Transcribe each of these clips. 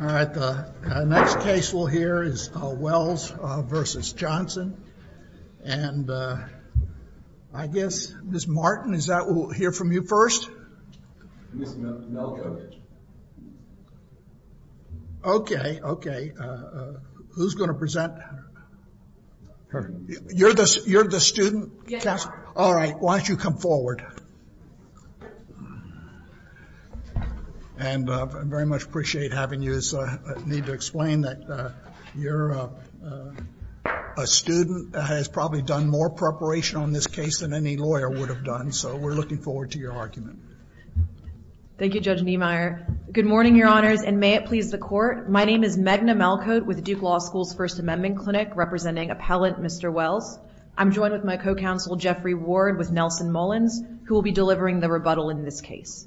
All right, the next case we'll hear is Wells v. Johnson. And I guess Ms. Martin, is that who we'll hear from you first? Ms. Melko. Okay, okay. Who's going to present? You're the student counselor? All right, why don't you come forward. And I very much appreciate having you. I need to explain that you're a student that has probably done more preparation on this case than any lawyer would have done, so we're looking forward to your argument. Thank you, Judge Niemeyer. Good morning, Your Honors, and may it please the Court. My name is Meghna Melko with Duke Law School's First Amendment Clinic, representing Appellant Mr. Wells. I'm joined with my co-counsel Jeffrey Ward with Nelson Mullins, who will be delivering the rebuttal in this case.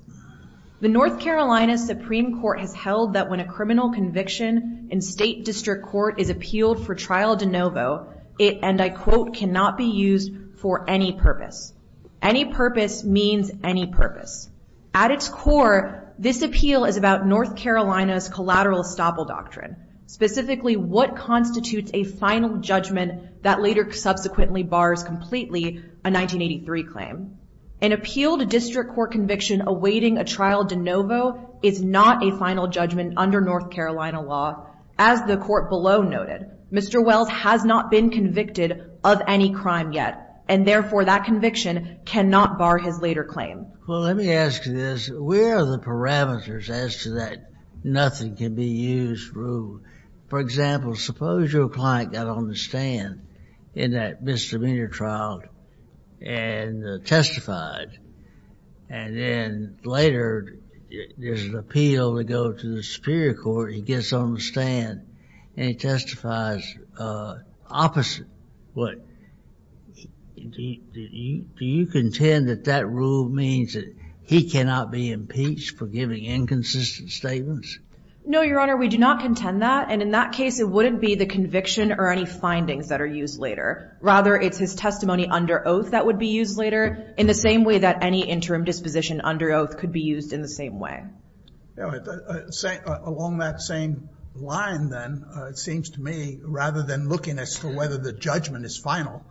The North Carolina Supreme Court has held that when a criminal conviction in state district court is appealed for trial de novo, it, and I quote, cannot be used for any purpose. Any purpose means any purpose. At its core, this appeal is about North Carolina's collateral estoppel doctrine, specifically what constitutes a final judgment that later subsequently bars completely a 1983 claim. An appeal to district court conviction awaiting a trial de novo is not a final judgment under North Carolina law. As the Court below noted, Mr. Wells has not been convicted of any crime yet, and therefore that conviction cannot bar his later claim. Well, let me ask you this. Where are the parameters as to that nothing can be used rule? For example, suppose your client got on the stand in that misdemeanor trial and testified, and then later there's an appeal to go to the Superior Court. He gets on the stand, and he testifies opposite. Do you contend that that rule means that he cannot be impeached for giving inconsistent statements? No, Your Honor, we do not contend that. And in that case, it wouldn't be the conviction or any findings that are used later. Rather, it's his testimony under oath that would be used later, in the same way that any interim disposition under oath could be used in the same way. Along that same line, then, it seems to me, rather than looking as to whether the judgment is final,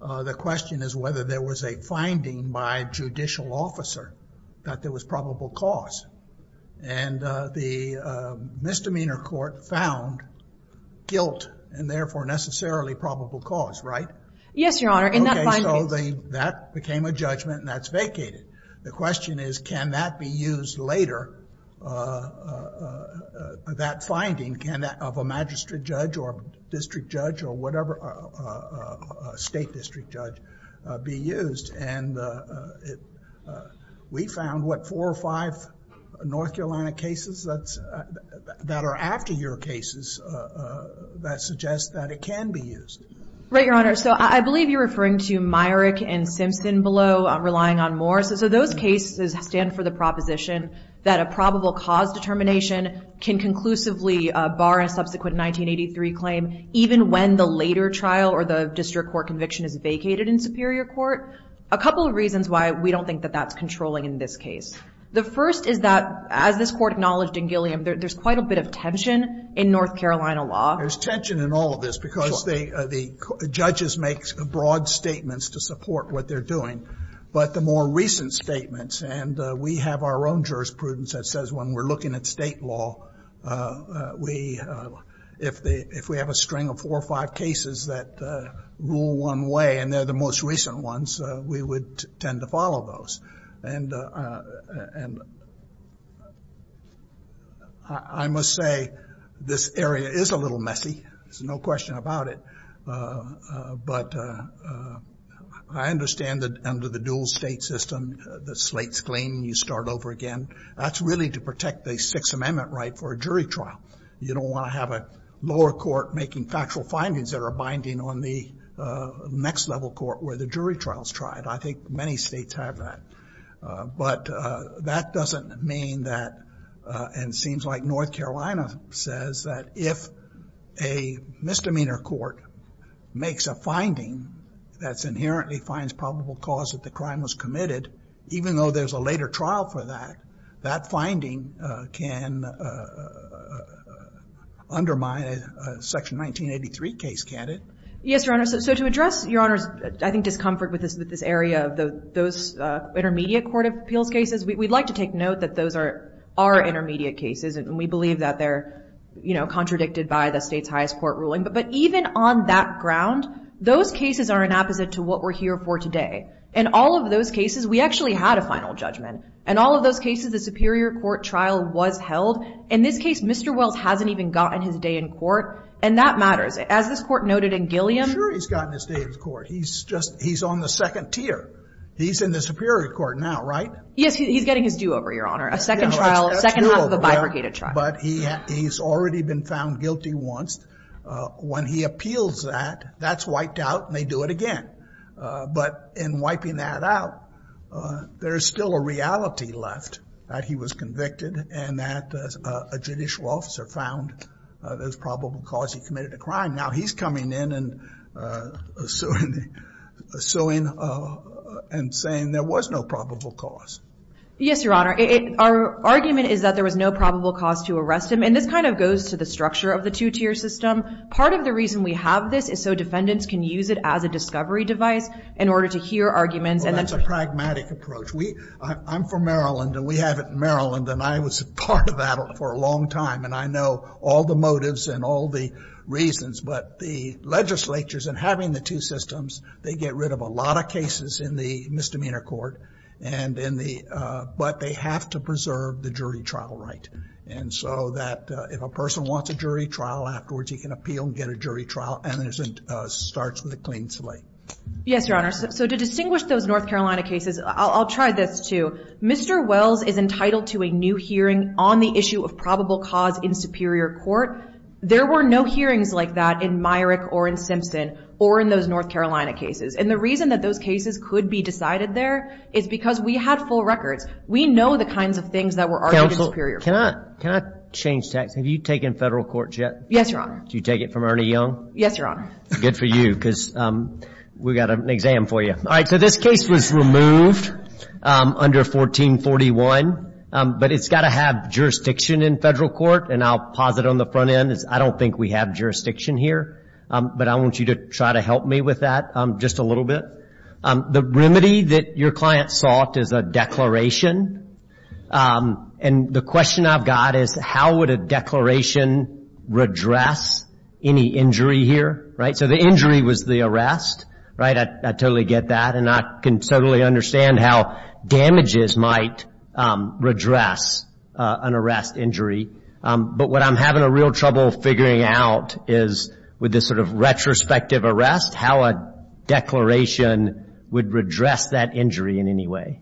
the question is whether there was a finding by a judicial officer that there was probable cause. And the misdemeanor court found guilt and, therefore, necessarily probable cause, right? Yes, Your Honor. Okay, so that became a judgment, and that's vacated. The question is, can that be used later, that finding, can that of a magistrate judge or district judge or whatever, a state district judge, be used? And we found, what, four or five North Carolina cases that are after your cases that suggest that it can be used. Right, Your Honor. So I believe you're referring to Myrick and Simpson below, relying on Moore. So those cases stand for the proposition that a probable cause determination can conclusively bar a subsequent 1983 claim, even when the later trial or the district court conviction is vacated in superior court. A couple of reasons why we don't think that that's controlling in this case. The first is that, as this Court acknowledged in Gilliam, there's quite a bit of tension in North Carolina law. There's tension in all of this because the judges make broad statements to support what they're doing. But the more recent statements, and we have our own jurisprudence that says when we're looking at state law, if we have a string of four or five cases that rule one way and they're the most recent ones, we would tend to follow those. And I must say this area is a little messy. There's no question about it. But I understand that under the dual-state system, the slate's clean, you start over again. That's really to protect the Sixth Amendment right for a jury trial. You don't want to have a lower court making factual findings that are binding on the next-level court where the jury trial's tried. I think many states have that. But that doesn't mean that, and it seems like North Carolina says that if a misdemeanor court makes a finding that inherently finds probable cause that the crime was committed, even though there's a later trial for that, that finding can undermine a Section 1983 case, can't it? Yes, Your Honor. So to address Your Honor's, I think, discomfort with this area of those intermediate court appeals cases, we'd like to take note that those are intermediate cases, and we believe that they're contradicted by the state's highest court ruling. But even on that ground, those cases are an opposite to what we're here for today. In all of those cases, we actually had a final judgment. In all of those cases, the superior court trial was held. In this case, Mr. Wells hasn't even gotten his day in court, and that matters. As this court noted in Gilliam. I'm sure he's gotten his day in court. He's on the second tier. He's in the superior court now, right? Yes, he's getting his due over, Your Honor. A second trial, second half of a bifurcated trial. But he's already been found guilty once. When he appeals that, that's wiped out and they do it again. But in wiping that out, there's still a reality left that he was convicted and that a judicial officer found there was probable cause he committed a crime. Now he's coming in and suing and saying there was no probable cause. Yes, Your Honor. Our argument is that there was no probable cause to arrest him. And this kind of goes to the structure of the two-tier system. Part of the reason we have this is so defendants can use it as a discovery device in order to hear arguments. Well, that's a pragmatic approach. I'm from Maryland, and we have it in Maryland, and I was part of that for a long time. And I know all the motives and all the reasons. But the legislatures, in having the two systems, they get rid of a lot of cases in the misdemeanor court. But they have to preserve the jury trial right. And so that if a person wants a jury trial afterwards, he can appeal and get a jury trial, and it starts with a clean slate. Yes, Your Honor. So to distinguish those North Carolina cases, I'll try this too. Mr. Wells is entitled to a new hearing on the issue of probable cause in superior court. There were no hearings like that in Myrick or in Simpson or in those North Carolina cases. And the reason that those cases could be decided there is because we had full records. We know the kinds of things that were argued in superior court. Counsel, can I change tacks? Have you taken federal courts yet? Yes, Your Honor. Did you take it from Ernie Young? Yes, Your Honor. Good for you, because we've got an exam for you. All right. So this case was removed under 1441. But it's got to have jurisdiction in federal court. And I'll pause it on the front end. I don't think we have jurisdiction here. But I want you to try to help me with that just a little bit. The remedy that your client sought is a declaration. And the question I've got is how would a declaration redress any injury here, right? So the injury was the arrest, right? I totally get that. And I can totally understand how damages might redress an arrest injury. But what I'm having a real trouble figuring out is with this sort of retrospective arrest, how a declaration would redress that injury in any way.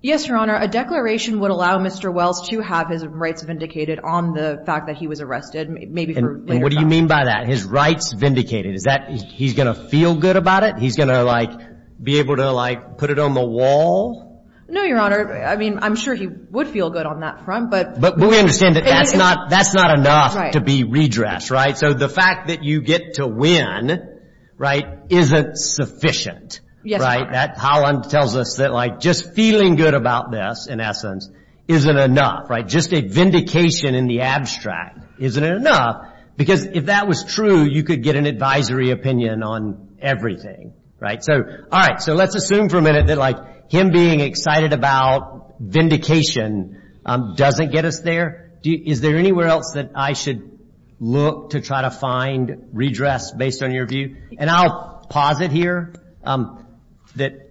Yes, Your Honor. A declaration would allow Mr. Wells to have his rights vindicated on the fact that he was arrested, maybe for later time. And what do you mean by that, his rights vindicated? Is that he's going to feel good about it? He's going to, like, be able to, like, put it on the wall? No, Your Honor. I mean, I'm sure he would feel good on that front. But we understand that that's not enough to be redressed, right? So the fact that you get to win, right, isn't sufficient, right? Yes, Your Honor. That tells us that, like, just feeling good about this, in essence, isn't enough, right? Just a vindication in the abstract isn't enough. Because if that was true, you could get an advisory opinion on everything, right? All right, so let's assume for a minute that, like, him being excited about vindication doesn't get us there. Is there anywhere else that I should look to try to find redress based on your view? And I'll posit here that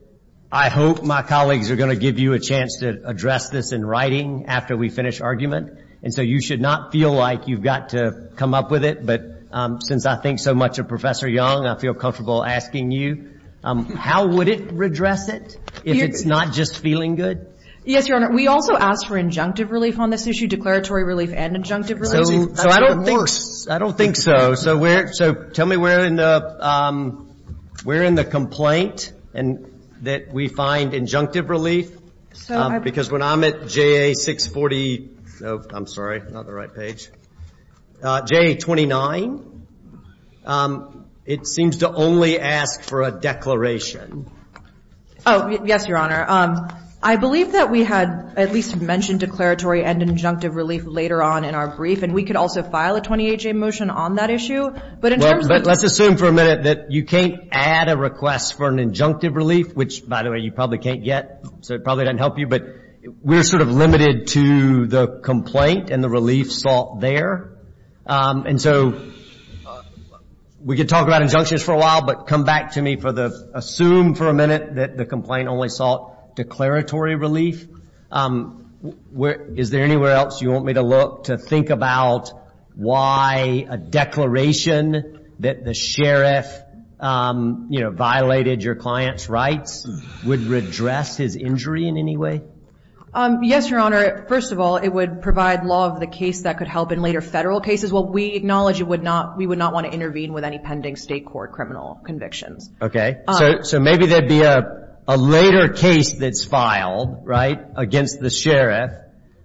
I hope my colleagues are going to give you a chance to address this in writing after we finish argument. And so you should not feel like you've got to come up with it. But since I think so much of Professor Young, I feel comfortable asking you, how would it redress it if it's not just feeling good? Yes, Your Honor. We also ask for injunctive relief on this issue, declaratory relief and injunctive relief. So I don't think so. So tell me where in the complaint that we find injunctive relief. Because when I'm at JA640, no, I'm sorry, not the right page, JA29, it seems to only ask for a declaration. Oh, yes, Your Honor. I believe that we had at least mentioned declaratory and injunctive relief later on in our brief. And we could also file a 28-J motion on that issue. But in terms of- Well, let's assume for a minute that you can't add a request for an injunctive relief, which, by the way, you probably can't get. So it probably doesn't help you. But we're sort of limited to the complaint and the relief sought there. And so we could talk about injunctions for a while, but come back to me for the assume for a minute that the complaint only sought declaratory relief. Is there anywhere else you want me to look to think about why a declaration that the sheriff, you know, violated your client's rights would redress his injury in any way? Yes, Your Honor. First of all, it would provide law of the case that could help in later federal cases. Well, we acknowledge we would not want to intervene with any pending state court criminal convictions. Okay. So maybe there would be a later case that's filed, right, against the sheriff.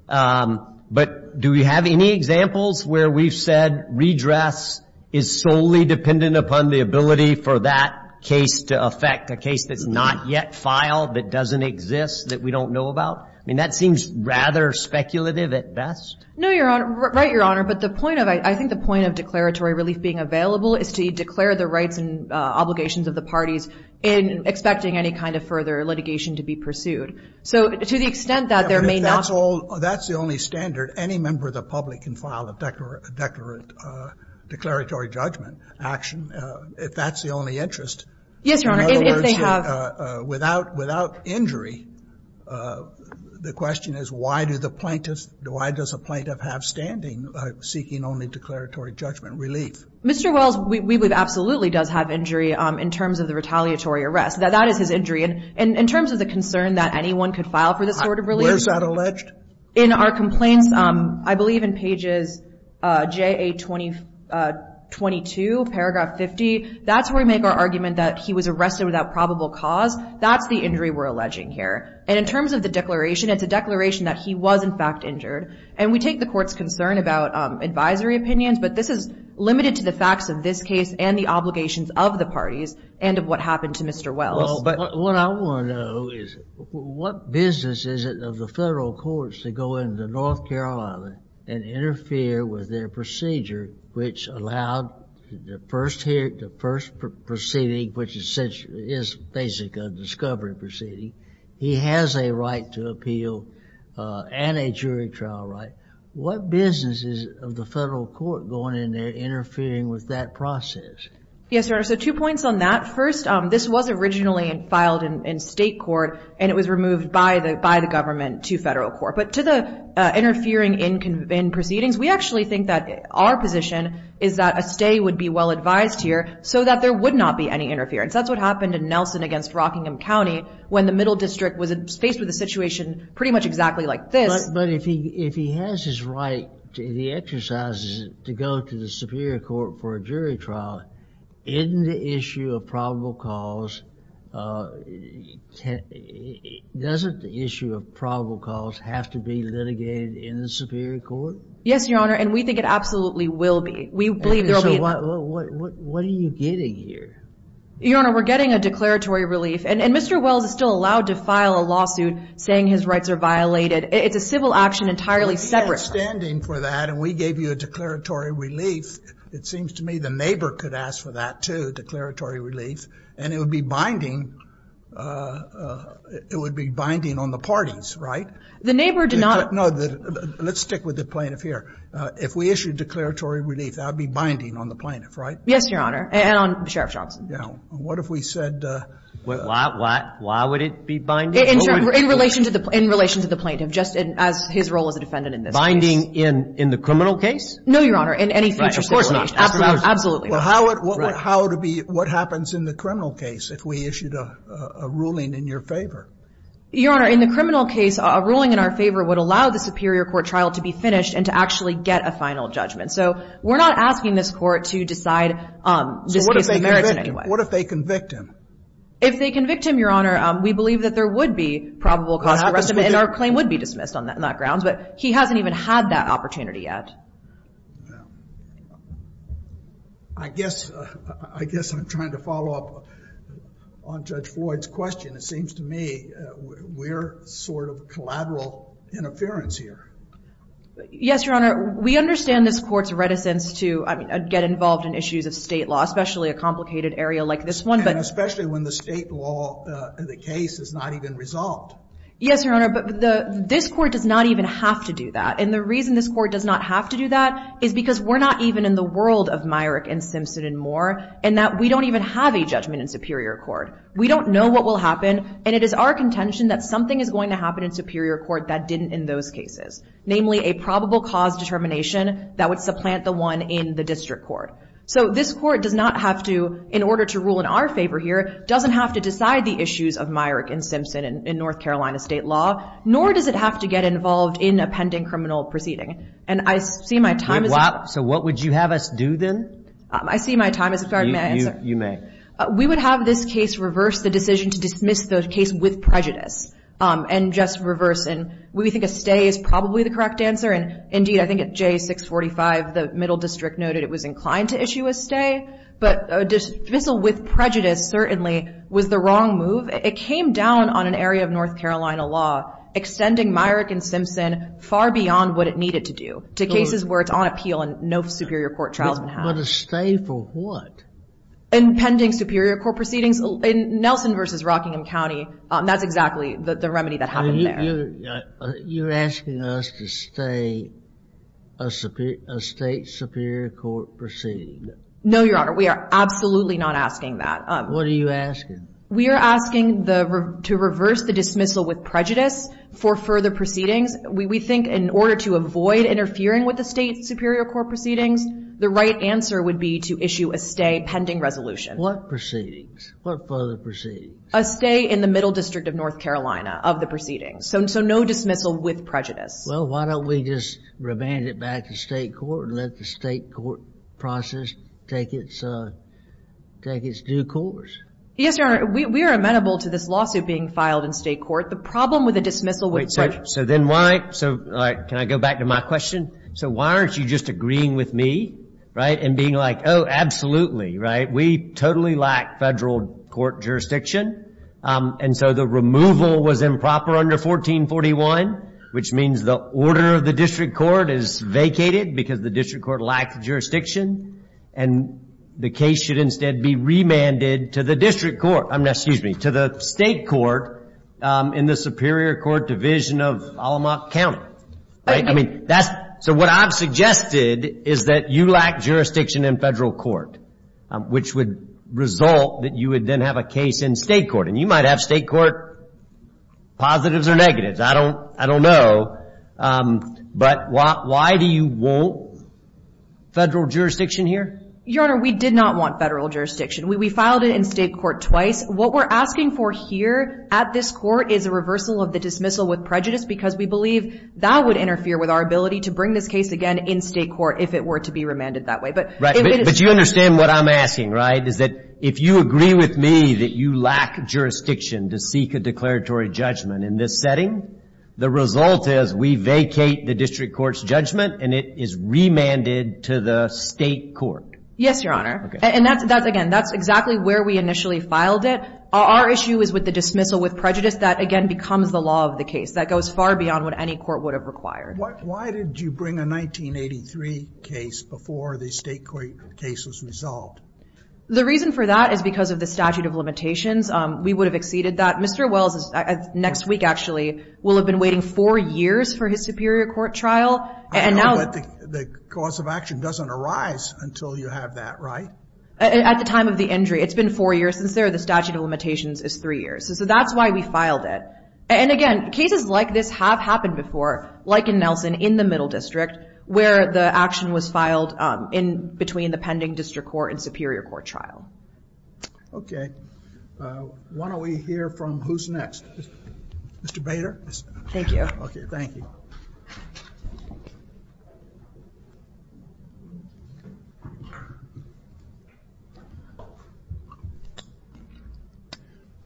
But do we have any examples where we've said redress is solely dependent upon the ability for that case to affect, a case that's not yet filed, that doesn't exist, that we don't know about? I mean, that seems rather speculative at best. No, Your Honor. Right, Your Honor. But the point of, I think the point of declaratory relief being available is to declare the rights and obligations of the parties in expecting any kind of further litigation to be pursued. So to the extent that there may not be. That's the only standard any member of the public can file a declaratory judgment action, if that's the only interest. Yes, Your Honor, if they have. Without injury, the question is why do the plaintiffs, why does a plaintiff have standing seeking only declaratory judgment relief? Mr. Wells, we believe absolutely does have injury in terms of the retaliatory arrest. That is his injury. And in terms of the concern that anyone could file for this sort of relief. Where is that alleged? In our complaints, I believe in pages J.A. 22, paragraph 50, that's where we make our argument that he was arrested without probable cause. That's the injury we're alleging here. And in terms of the declaration, it's a declaration that he was, in fact, injured. And we take the court's concern about advisory opinions, but this is limited to the facts of this case and the obligations of the parties and of what happened to Mr. Wells. Well, but what I want to know is what business is it of the federal courts to go into North Carolina and interfere with their procedure which allowed the first hearing, the first proceeding which essentially is basically a discovery proceeding. He has a right to appeal and a jury trial right. What business is it of the federal court going in there interfering with that process? Yes, Your Honor, so two points on that. First, this was originally filed in state court and it was removed by the government to federal court. But to the interfering in proceedings, we actually think that our position is that a stay would be well advised here so that there would not be any interference. That's what happened in Nelson against Rockingham County when the middle district was faced with a situation pretty much exactly like this. But if he has his right and he exercises it to go to the superior court for a jury trial, in the issue of probable cause, doesn't the issue of probable cause have to be litigated in the superior court? Yes, Your Honor, and we think it absolutely will be. We believe there will be. So what are you getting here? Your Honor, we're getting a declaratory relief. And Mr. Wells is still allowed to file a lawsuit saying his rights are violated. It's a civil action entirely separate. We're standing for that and we gave you a declaratory relief. It seems to me the neighbor could ask for that too, declaratory relief, and it would be binding on the parties, right? The neighbor did not. No, let's stick with the plaintiff here. If we issued declaratory relief, that would be binding on the plaintiff, right? Yes, Your Honor, and on Sheriff Johnson. Now, what if we said... Why would it be binding? In relation to the plaintiff, just as his role as a defendant in this case. Binding in the criminal case? No, Your Honor, in any future situation. Right, of course not. Absolutely. Well, how would it be... What happens in the criminal case if we issued a ruling in your favor? Your Honor, in the criminal case, a ruling in our favor would allow the superior court trial to be finished and to actually get a final judgment. So we're not asking this court to decide... So what if they convict him? What if they convict him? If they convict him, Your Honor, we believe that there would be probable cause for arrest. And our claim would be dismissed on that grounds, but he hasn't even had that opportunity yet. I guess I'm trying to follow up on Judge Floyd's question. It seems to me we're sort of collateral interference here. Yes, Your Honor. We understand this court's reticence to get involved in issues of state law, especially a complicated area like this one. And especially when the state law of the case is not even resolved. Yes, Your Honor. But this court does not even have to do that. And the reason this court does not have to do that is because we're not even in the world of Myrick and Simpson anymore and that we don't even have a judgment in superior court. We don't know what will happen, and it is our contention that something is going to happen in superior court that didn't in those cases, namely a probable cause determination that would supplant the one in the district court. So this court does not have to, in order to rule in our favor here, doesn't have to decide the issues of Myrick and Simpson in North Carolina state law, nor does it have to get involved in a pending criminal proceeding. And I see my time is up. So what would you have us do then? I see my time is up. You may. We would have this case reverse the decision to dismiss the case with prejudice and just reverse it. We think a stay is probably the correct answer, and indeed I think at J645 the middle district noted it was inclined to issue a stay. But a dismissal with prejudice certainly was the wrong move. It came down on an area of North Carolina law, extending Myrick and Simpson far beyond what it needed to do, to cases where it's on appeal and no superior court trial has been had. But a stay for what? In pending superior court proceedings. In Nelson v. Rockingham County, that's exactly the remedy that happened there. You're asking us to stay a state superior court proceeding. No, Your Honor. We are absolutely not asking that. What are you asking? We are asking to reverse the dismissal with prejudice for further proceedings. We think in order to avoid interfering with the state superior court proceedings, the right answer would be to issue a stay pending resolution. What proceedings? What further proceedings? A stay in the middle district of North Carolina of the proceedings. So no dismissal with prejudice. Well, why don't we just remand it back to state court and let the state court process take its due course? Yes, Your Honor. We are amenable to this lawsuit being filed in state court. The problem with a dismissal with prejudice. So then why? Can I go back to my question? So why aren't you just agreeing with me and being like, oh, absolutely, right? We totally lack federal court jurisdiction, and so the removal was improper under 1441, which means the order of the district court is vacated because the district court lacked jurisdiction, and the case should instead be remanded to the district court, excuse me, to the state court in the superior court division of Allamoch County. So what I've suggested is that you lack jurisdiction in federal court, which would result that you would then have a case in state court, and you might have state court positives or negatives. I don't know, but why do you want federal jurisdiction here? Your Honor, we did not want federal jurisdiction. We filed it in state court twice. What we're asking for here at this court is a reversal of the dismissal with prejudice because we believe that would interfere with our ability to bring this case again in state court if it were to be remanded that way. Right, but you understand what I'm asking, right, is that if you agree with me that you lack jurisdiction to seek a declaratory judgment in this setting, the result is we vacate the district court's judgment, and it is remanded to the state court. Yes, Your Honor, and again, that's exactly where we initially filed it. Our issue is with the dismissal with prejudice. That, again, becomes the law of the case. That goes far beyond what any court would have required. Why did you bring a 1983 case before the state court case was resolved? The reason for that is because of the statute of limitations. We would have exceeded that. Mr. Wells, next week actually, will have been waiting four years for his superior court trial. I know, but the cause of action doesn't arise until you have that, right? At the time of the injury. It's been four years since there. The statute of limitations is three years. So that's why we filed it. And again, cases like this have happened before, like in Nelson, in the middle district, where the action was filed between the pending district court and superior court trial. Okay. Why don't we hear from who's next? Mr. Bader. Thank you. Okay, thank you.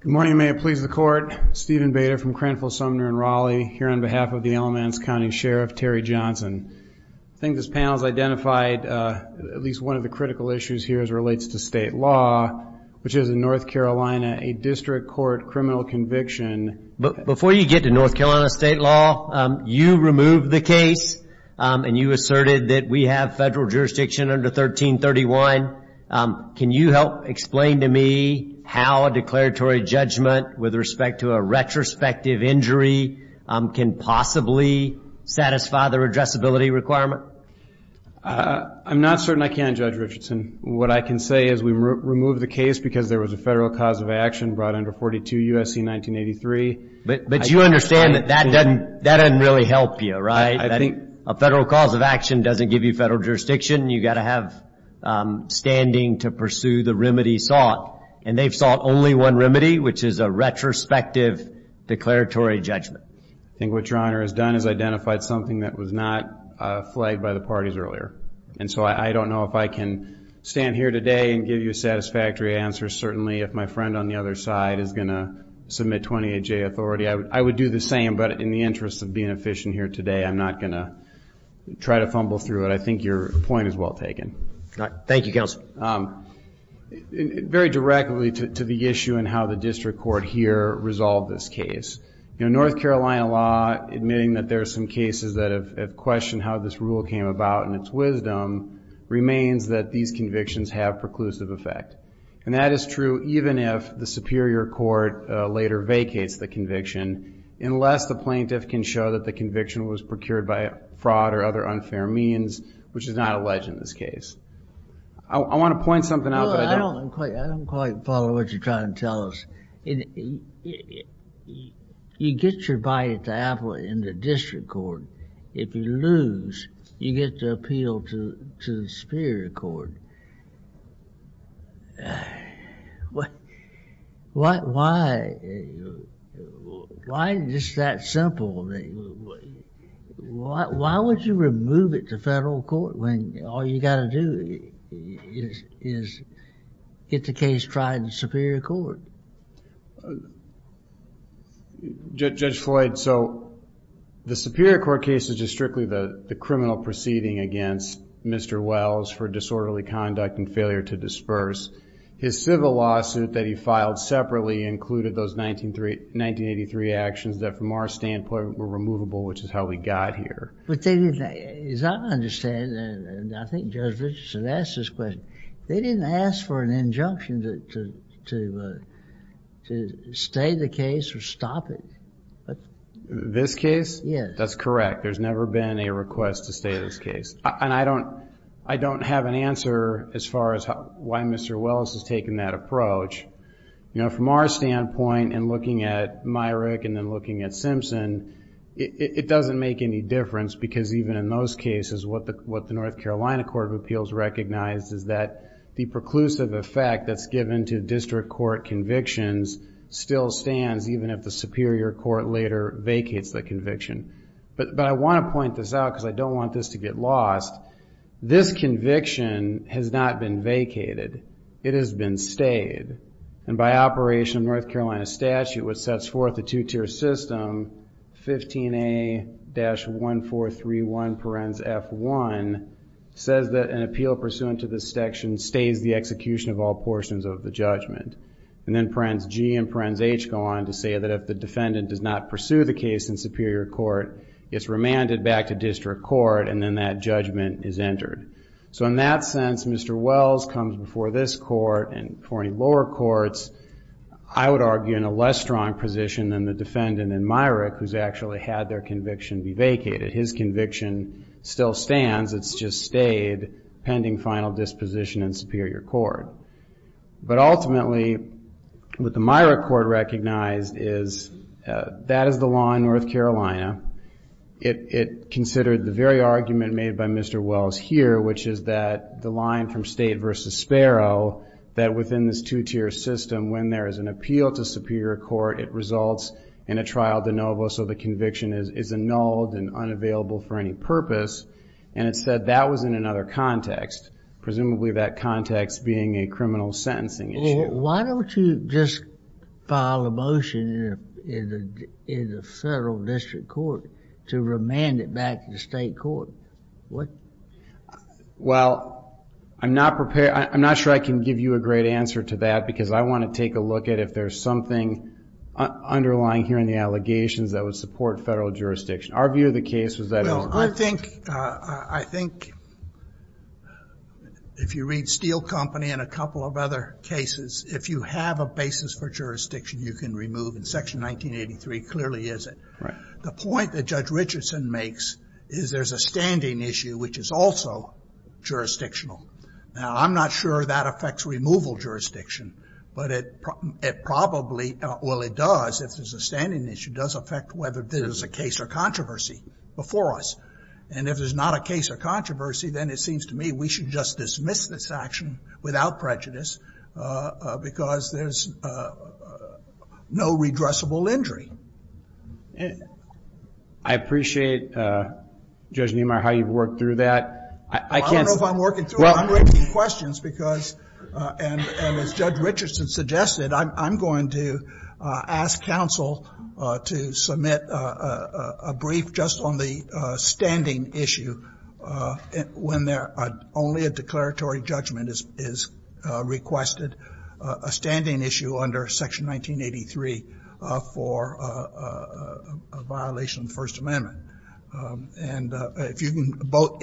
Good morning. May it please the court. Stephen Bader from Cranfield, Sumner, and Raleigh, here on behalf of the Alamance County Sheriff, Terry Johnson. I think this panel has identified at least one of the critical issues here as it relates to state law, which is in North Carolina, a district court criminal conviction. Before you get to North Carolina state law, you removed the case and you asserted that we have federal jurisdiction under 1331. Can you help explain to me how a declaratory judgment with respect to a retrospective injury can possibly satisfy the redressability requirement? I'm not certain I can, Judge Richardson. What I can say is we removed the case because there was a federal cause of action brought under 42 U.S.C. 1983. But you understand that that doesn't really help you, right? A federal cause of action doesn't give you federal jurisdiction. You've got to have standing to pursue the remedy sought. And they've sought only one remedy, which is a retrospective declaratory judgment. I think what Your Honor has done is identified something that was not flagged by the parties earlier. And so I don't know if I can stand here today and give you a satisfactory answer, certainly if my friend on the other side is going to submit 28-J authority. I would do the same, but in the interest of being efficient here today, I'm not going to try to fumble through it. But I think your point is well taken. Thank you, Counsel. Very directly to the issue and how the district court here resolved this case. North Carolina law, admitting that there are some cases that have questioned how this rule came about and its wisdom remains that these convictions have preclusive effect. And that is true even if the superior court later vacates the conviction, unless the plaintiff can show that the conviction was procured by fraud or other unfair means, which is not alleged in this case. I want to point something out. I don't quite follow what you're trying to tell us. You get your bite at the apple in the district court. If you lose, you get to appeal to the superior court. And why is this that simple? Why would you remove it to federal court when all you got to do is get the case tried in the superior court? Judge Floyd, so the superior court case is just strictly the criminal proceeding against Mr. Wells for disorderly conduct and failure to disperse. His civil lawsuit that he filed separately included those 1983 actions that, from our standpoint, were removable, which is how we got here. As I understand, and I think Judge Richardson asked this question, they didn't ask for an injunction to stay the case or stop it. This case? Yes. That's correct. There's never been a request to stay this case. And I don't have an answer as far as why Mr. Wells has taken that approach. From our standpoint, and looking at Myrick and then looking at Simpson, it doesn't make any difference because even in those cases, what the North Carolina Court of Appeals recognizes is that the preclusive effect that's given to district court convictions still stands, even if the superior court later vacates the conviction. But I want to point this out because I don't want this to get lost. This conviction has not been vacated. It has been stayed. And by operation of North Carolina statute, which sets forth the two-tier system, 15A-1431, parens F1, says that an appeal pursuant to this section stays the execution of all portions of the judgment. And then parens G and parens H go on to say that if the defendant does not pursue the case in superior court, it's remanded back to district court, and then that judgment is entered. So in that sense, Mr. Wells comes before this court and before any lower courts, I would argue, in a less strong position than the defendant in Myrick, who's actually had their conviction be vacated. His conviction still stands. It's just stayed pending final disposition in superior court. But ultimately, what the Myrick court recognized is, that is the law in North Carolina. It considered the very argument made by Mr. Wells here, which is that the line from State versus Sparrow, that within this two-tier system, when there is an appeal to superior court, it results in a trial de novo, so the conviction is annulled and unavailable for any purpose. And it said that was in another context, presumably that context being a criminal sentencing issue. Well, why don't you just file a motion in the federal district court to remand it back to the state court? Well, I'm not prepared. I'm not sure I can give you a great answer to that, because I want to take a look at if there's something underlying here in the allegations that would support federal jurisdiction. Our view of the case was that it would. I think if you read Steel Company and a couple of other cases, if you have a basis for jurisdiction, you can remove it. Section 1983 clearly is it. The point that Judge Richardson makes is there's a standing issue, which is also jurisdictional. Now, I'm not sure that affects removal jurisdiction, but it probably, well, it does if there's a standing issue, it does affect whether there's a case or controversy before us. And if there's not a case or controversy, then it seems to me we should just dismiss this action without prejudice, because there's no redressable injury. I appreciate, Judge Niemeyer, how you've worked through that. I don't know if I'm working through it. I'm raising questions because, and as Judge Richardson suggested, I'm going to ask counsel to submit a brief just on the standing issue, when only a declaratory judgment is requested, a standing issue under Section 1983 for a violation of the First Amendment. And if you can both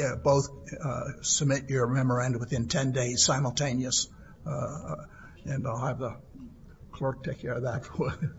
submit your memoranda within 10 days simultaneous, and I'll have the clerk take care of that for you.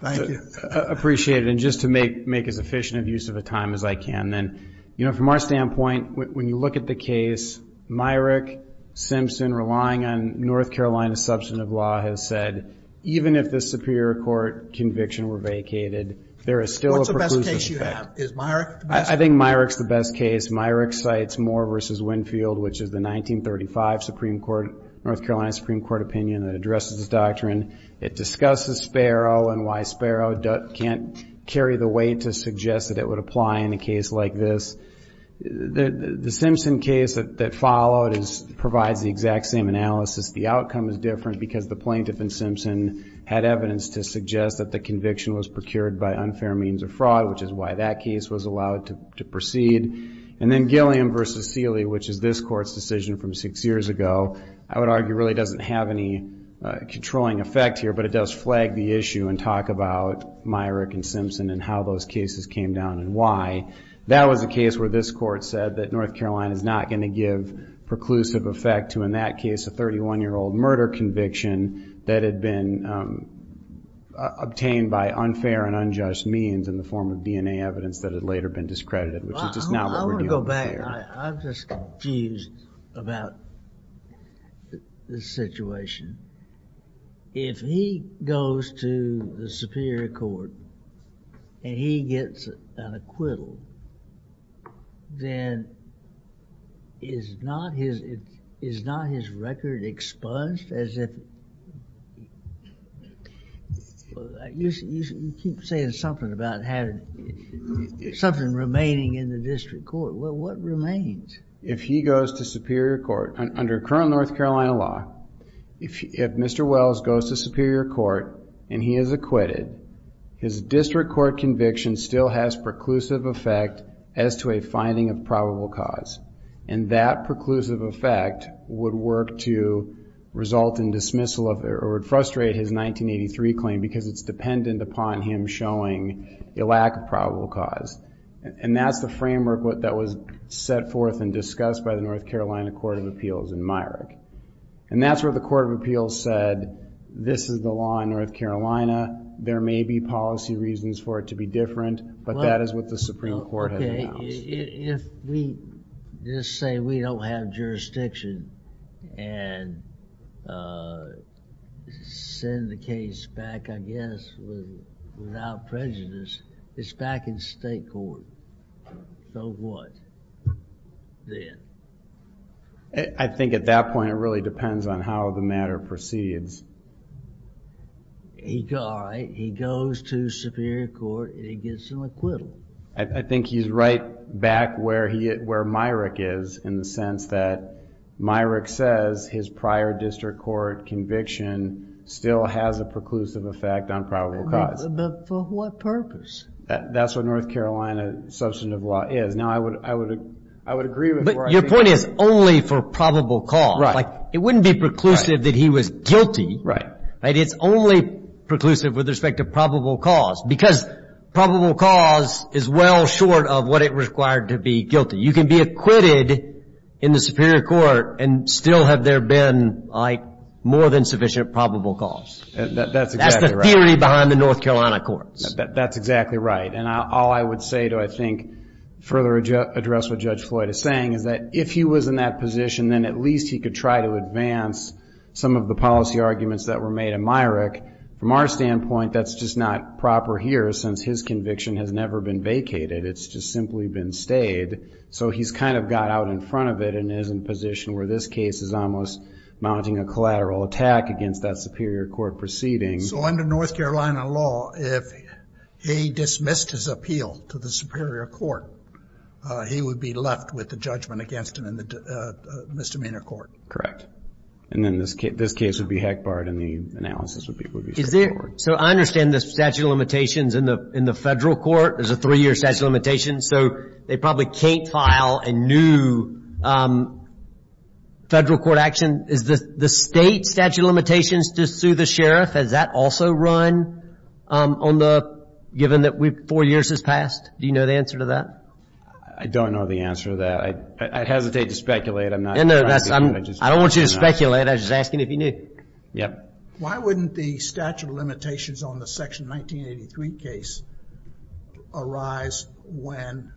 Thank you. I appreciate it. And just to make as efficient of use of the time as I can, then, you know, from our standpoint, when you look at the case, Myrick Simpson, relying on North Carolina substantive law, has said even if the Superior Court conviction were vacated, there is still a preclusion effect. What's the best case you have? Is Myrick the best case? I think Myrick's the best case. Myrick cites Moore v. Winfield, which is the 1935 Supreme Court, North Carolina Supreme Court opinion that addresses this doctrine. It discusses Sparrow and why Sparrow can't carry the weight to suggest that it would apply in a case like this. The Simpson case that followed provides the exact same analysis. The outcome is different because the plaintiff in Simpson had evidence to suggest that the conviction was procured by unfair means of fraud, which is why that case was allowed to proceed. And then Gilliam v. Seeley, which is this court's decision from six years ago, I would argue really doesn't have any controlling effect here, but it does flag the issue and talk about Myrick and Simpson and how those cases came down and why. That was a case where this court said that North Carolina is not going to give preclusive effect to, in that case, a 31-year-old murder conviction that had been obtained by unfair and unjust means in the form of DNA evidence that had later been discredited, which is just not what we're doing here. I'm just confused about this situation. If he goes to the Superior Court and he gets an acquittal, then is not his record expunged as if... You keep saying something about something remaining in the district court. What remains? If he goes to Superior Court, under current North Carolina law, if Mr. Wells goes to Superior Court and he is acquitted, his district court conviction still has preclusive effect as to a finding of probable cause. And that preclusive effect would work to result in dismissal of, or it would frustrate his 1983 claim because it's dependent upon him showing a lack of probable cause. And that's the framework that was set forth and discussed by the North Carolina Court of Appeals in Myrick. And that's where the Court of Appeals said, this is the law in North Carolina. There may be policy reasons for it to be different, but that is what the Supreme Court has announced. If we just say we don't have jurisdiction and send the case back, I guess, without prejudice, it's back in state court. So what then? I think at that point it really depends on how the matter proceeds. All right, he goes to Superior Court and he gets an acquittal. I think he's right back where Myrick is in the sense that Myrick says his prior district court conviction still has a preclusive effect on probable cause. But for what purpose? That's what North Carolina substantive law is. Now, I would agree with where I think that is. But your point is only for probable cause. Right. It wouldn't be preclusive that he was guilty. Right. It's only preclusive with respect to probable cause because probable cause is well short of what it required to be guilty. You can be acquitted in the Superior Court and still have there been more than sufficient probable cause. That's exactly right. That's the theory behind the North Carolina courts. That's exactly right. And all I would say to, I think, further address what Judge Floyd is saying is that if he was in that position, then at least he could try to advance some of the policy arguments that were made in Myrick. From our standpoint, that's just not proper here since his conviction has never been vacated. It's just simply been stayed. So he's kind of got out in front of it and is in a position where this case is almost mounting a collateral attack against that Superior Court proceeding. So under North Carolina law, if he dismissed his appeal to the Superior Court, he would be left with the judgment against him in the misdemeanor court. Correct. And then this case would be heck barred, and the analysis would be straightforward. So I understand the statute of limitations in the federal court. There's a three-year statute of limitations, so they probably can't file a new federal court action. Is the state statute of limitations to sue the sheriff, does that also run given that four years has passed? Do you know the answer to that? I don't know the answer to that. I hesitate to speculate. I don't want you to speculate. I was just asking if you knew. Why wouldn't the statute of limitations on the Section 1983 case arise when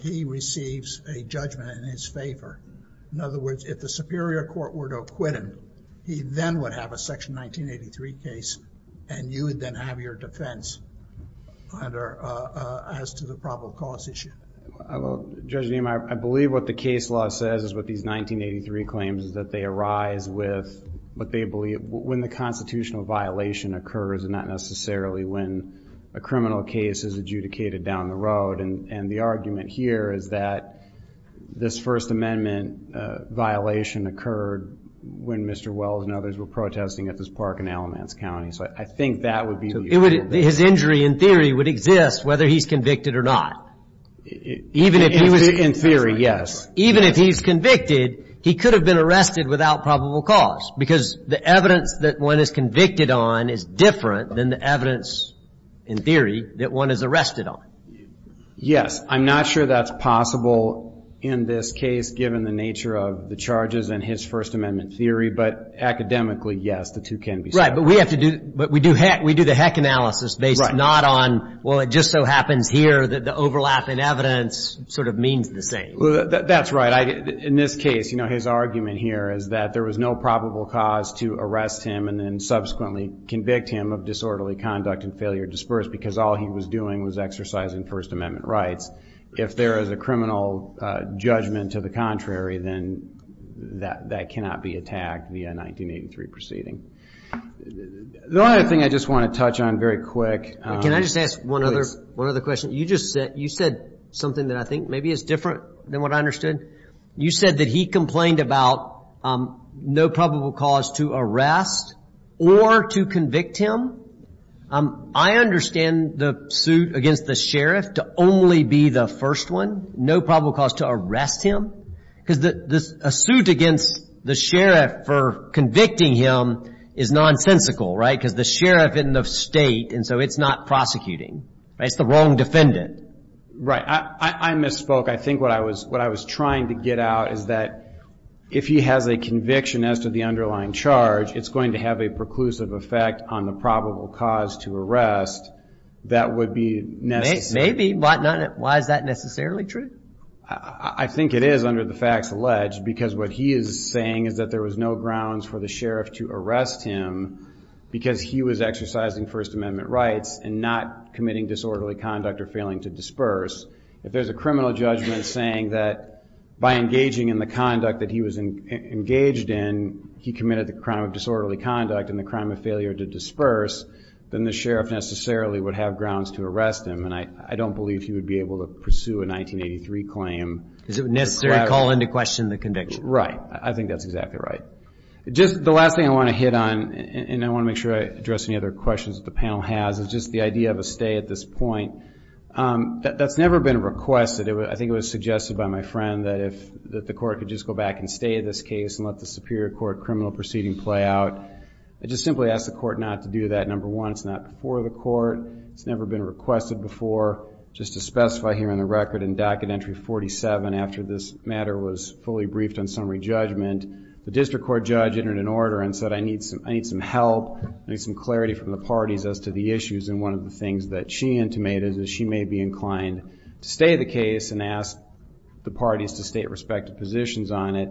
he receives a judgment in his favor? In other words, if the Superior Court were to acquit him, he then would have a Section 1983 case and you would then have your defense as to the probable cause issue. Judge Niemeyer, I believe what the case law says is what these 1983 claims is that they arise with what they believe when the constitutional violation occurs and not necessarily when a criminal case is adjudicated down the road. And the argument here is that this First Amendment violation occurred when Mr. Wells and others were protesting at this park in Alamance County. So I think that would be useful. His injury, in theory, would exist whether he's convicted or not. In theory, yes. Even if he's convicted, he could have been arrested without probable cause because the evidence that one is convicted on is different than the evidence, in theory, that one is arrested on. Yes. I'm not sure that's possible in this case given the nature of the charges and his First Amendment theory, but academically, yes, the two can be separate. Right, but we do the heck analysis based not on, well, it just so happens here that the overlap in evidence sort of means the same. That's right. In this case, his argument here is that there was no probable cause to arrest him and then subsequently convict him of disorderly conduct and failure to disperse because all he was doing was exercising First Amendment rights. If there is a criminal judgment to the contrary, then that cannot be attacked via a 1983 proceeding. The other thing I just want to touch on very quick. Can I just ask one other question? You just said something that I think maybe is different than what I understood. You said that he complained about no probable cause to arrest or to convict him. I understand the suit against the sheriff to only be the first one, no probable cause to arrest him, because a suit against the sheriff for convicting him is nonsensical, right, because the sheriff is in the state and so it's not prosecuting. It's the wrong defendant. Right, I misspoke. I think what I was trying to get out is that if he has a conviction as to the underlying charge, it's going to have a preclusive effect on the probable cause to arrest that would be necessary. Maybe, but why is that necessarily true? I think it is under the facts alleged because what he is saying is that there was no grounds for the sheriff to arrest him because he was exercising First Amendment rights and not committing disorderly conduct or failing to disperse. If there's a criminal judgment saying that by engaging in the conduct that he was engaged in, he committed the crime of disorderly conduct and the crime of failure to disperse, then the sheriff necessarily would have grounds to arrest him. I don't believe he would be able to pursue a 1983 claim. Is it necessary to call into question the conviction? Right, I think that's exactly right. Just the last thing I want to hit on, and I want to make sure I address any other questions that the panel has, is just the idea of a stay at this point. That's never been requested. I think it was suggested by my friend that the court could just go back and stay in this case and let the Superior Court criminal proceeding play out. I just simply ask the court not to do that. Number one, it's not before the court. It's never been requested before. Just to specify here on the record, in docket entry 47, after this matter was fully briefed on summary judgment, the district court judge entered an order and said, I need some help, I need some clarity from the parties as to the issues. And one of the things that she intimated is she may be inclined to stay the case and ask the parties to state respective positions on it.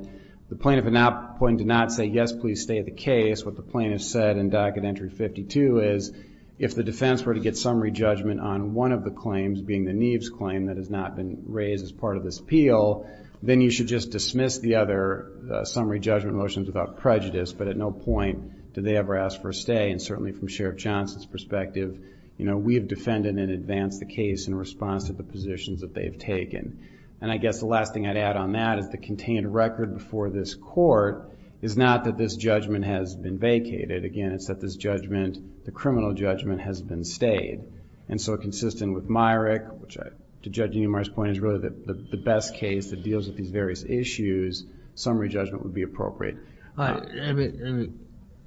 The plaintiff at that point did not say, yes, please stay the case. What the plaintiff said in docket entry 52 is, if the defense were to get summary judgment on one of the claims, being the Neves claim that has not been raised as part of this appeal, then you should just dismiss the other summary judgment motions without prejudice, but at no point did they ever ask for a stay. And certainly from Sheriff Johnson's perspective, we have defended in advance the case in response to the positions that they've taken. And I guess the last thing I'd add on that is the contained record before this court is not that this judgment has been vacated. Again, it's that this judgment, the criminal judgment, has been stayed. And so consistent with Myrick, which I, to Judge Niemeyer's point, is really the best case that deals with these various issues, summary judgment would be appropriate.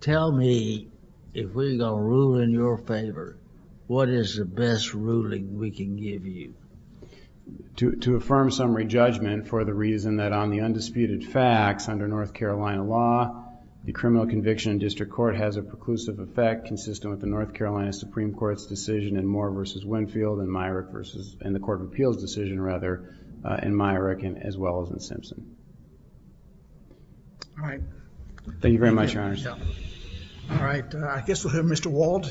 Tell me, if we're going to rule in your favor, what is the best ruling we can give you? To affirm summary judgment for the reason that on the undisputed facts under North Carolina law, the criminal conviction in district court has a preclusive effect consistent with the North Carolina Supreme Court's decision in Moore v. Winfield and the court of appeals decision, rather, in Myrick as well as in Simpson. All right. Thank you very much, Your Honors. All right. I guess we'll hear Mr. Wald.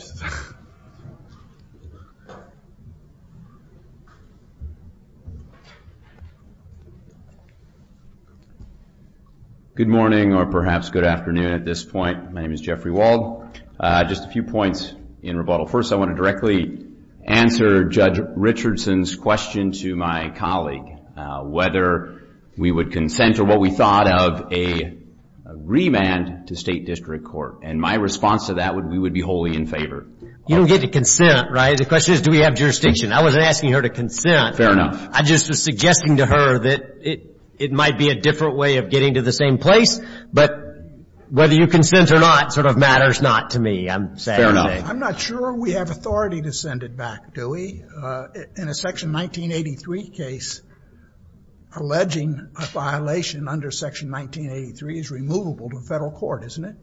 Good morning, or perhaps good afternoon at this point. My name is Jeffrey Wald. Just a few points in rebuttal. First, I want to directly answer Judge Richardson's question to my colleague, whether we would consent to what we thought of a remand to state district court. And my response to that would be we would be wholly in favor. You don't get to consent, right? The question is do we have jurisdiction. I wasn't asking her to consent. Fair enough. I just was suggesting to her that it might be a different way of getting to the same place, but whether you consent or not sort of matters not to me, I'm saying. I'm not sure we have authority to send it back, do we? In a Section 1983 case, alleging a violation under Section 1983 is removable to federal court, isn't it?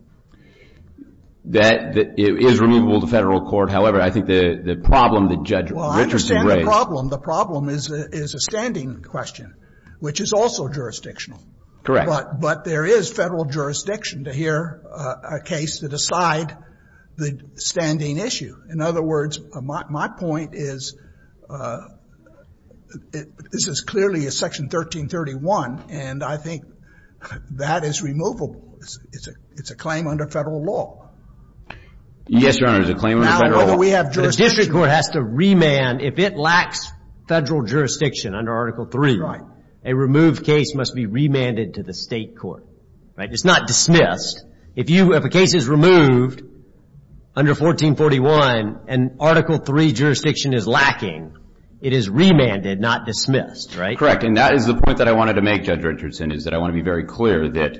It is removable to federal court. However, I think the problem that Judge Richardson raised. Well, I understand the problem. The problem is a standing question, which is also jurisdictional. But there is federal jurisdiction to hear a case to decide the standing issue. In other words, my point is this is clearly a Section 1331, and I think that is removable. It's a claim under federal law. Yes, Your Honor, it's a claim under federal law. Now, whether we have jurisdiction. The district court has to remand if it lacks federal jurisdiction under Article 3. Right. A removed case must be remanded to the state court, right? It's not dismissed. If a case is removed under 1441 and Article 3 jurisdiction is lacking, it is remanded, not dismissed, right? Correct, and that is the point that I wanted to make, Judge Richardson, is that I want to be very clear that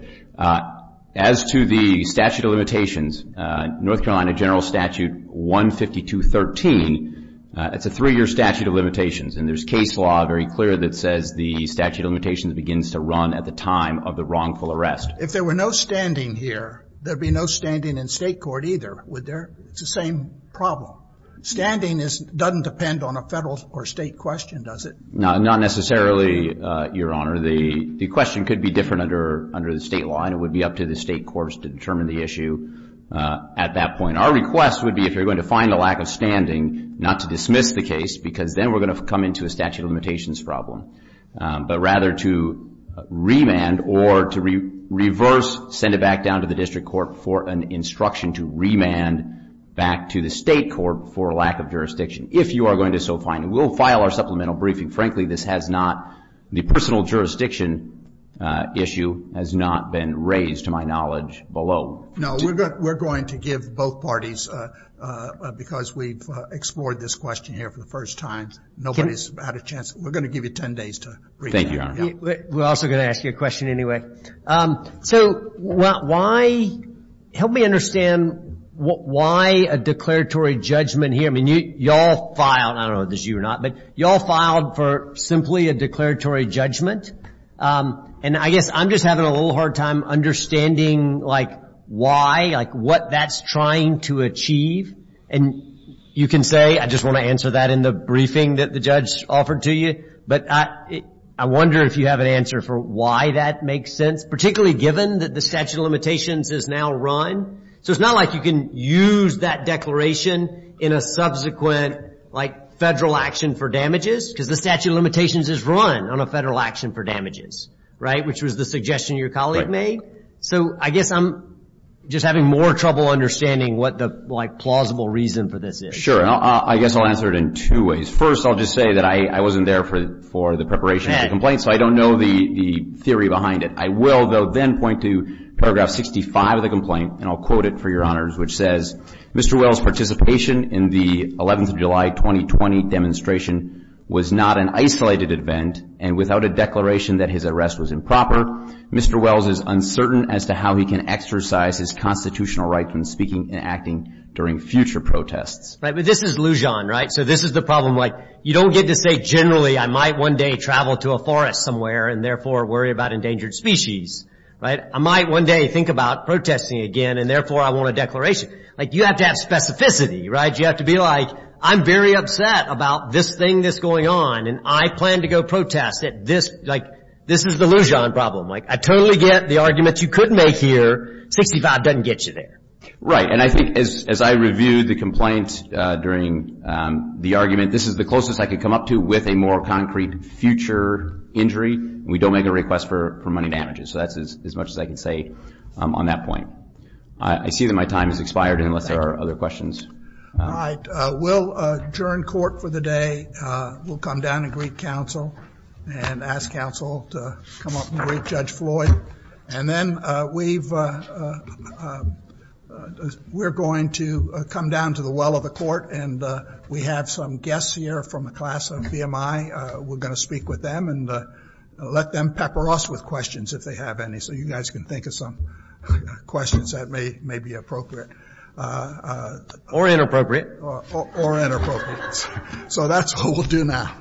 as to the statute of limitations, North Carolina General Statute 15213, it's a three-year statute of limitations, and there's case law very clear that says the statute of limitations begins to run at the time of the wrongful arrest. If there were no standing here, there would be no standing in state court either, would there? It's the same problem. Standing doesn't depend on a federal or state question, does it? Not necessarily, Your Honor. The question could be different under the state law, and it would be up to the state courts to determine the issue at that point. Our request would be if you're going to find a lack of standing not to dismiss the case because then we're going to come into a statute of limitations problem, but rather to remand or to reverse send it back down to the district court for an instruction to remand back to the state court for lack of jurisdiction if you are going to so find it. We'll file our supplemental briefing. Frankly, this has not, the personal jurisdiction issue has not been raised to my knowledge below. No, we're going to give both parties, because we've explored this question here for the first time. Nobody's had a chance. We're going to give you 10 days to bring it down. We're also going to ask you a question anyway. So why, help me understand why a declaratory judgment here. I mean, you all filed, I don't know if this is you or not, but you all filed for simply a declaratory judgment. And I guess I'm just having a little hard time understanding like why, like what that's trying to achieve. And you can say, I just want to answer that in the briefing that the judge offered to you. But I wonder if you have an answer for why that makes sense, particularly given that the statute of limitations is now run. So it's not like you can use that declaration in a subsequent like federal action for damages, because the statute of limitations is run on a federal action for damages, right, which was the suggestion your colleague made. So I guess I'm just having more trouble understanding what the like plausible reason for this is. Sure. I guess I'll answer it in two ways. First, I'll just say that I wasn't there for the preparation of the complaint, so I don't know the theory behind it. I will, though, then point to paragraph 65 of the complaint, and I'll quote it for your honors, which says, Mr. Wells' participation in the 11th of July 2020 demonstration was not an isolated event, and without a declaration that his arrest was improper, Mr. Wells is uncertain as to how he can exercise his constitutional right from speaking and acting during future protests. Right, but this is Lujan, right? So this is the problem, like you don't get to say generally I might one day travel to a forest somewhere and therefore worry about endangered species, right? I might one day think about protesting again and therefore I want a declaration. Like you have to have specificity, right? You have to be like I'm very upset about this thing that's going on, and I plan to go protest at this. Like this is the Lujan problem. Like I totally get the arguments you could make here. 65 doesn't get you there. Right, and I think as I reviewed the complaint during the argument, this is the closest I could come up to with a more concrete future injury, and we don't make a request for money damages. So that's as much as I can say on that point. I see that my time has expired unless there are other questions. All right, we'll adjourn court for the day. We'll come down and greet counsel and ask counsel to come up and greet Judge Floyd. And then we're going to come down to the well of the court, and we have some guests here from the class of VMI. We're going to speak with them and let them pepper us with questions if they have any, so you guys can think of some questions that may be appropriate. Or inappropriate. Or inappropriate. So that's what we'll do now.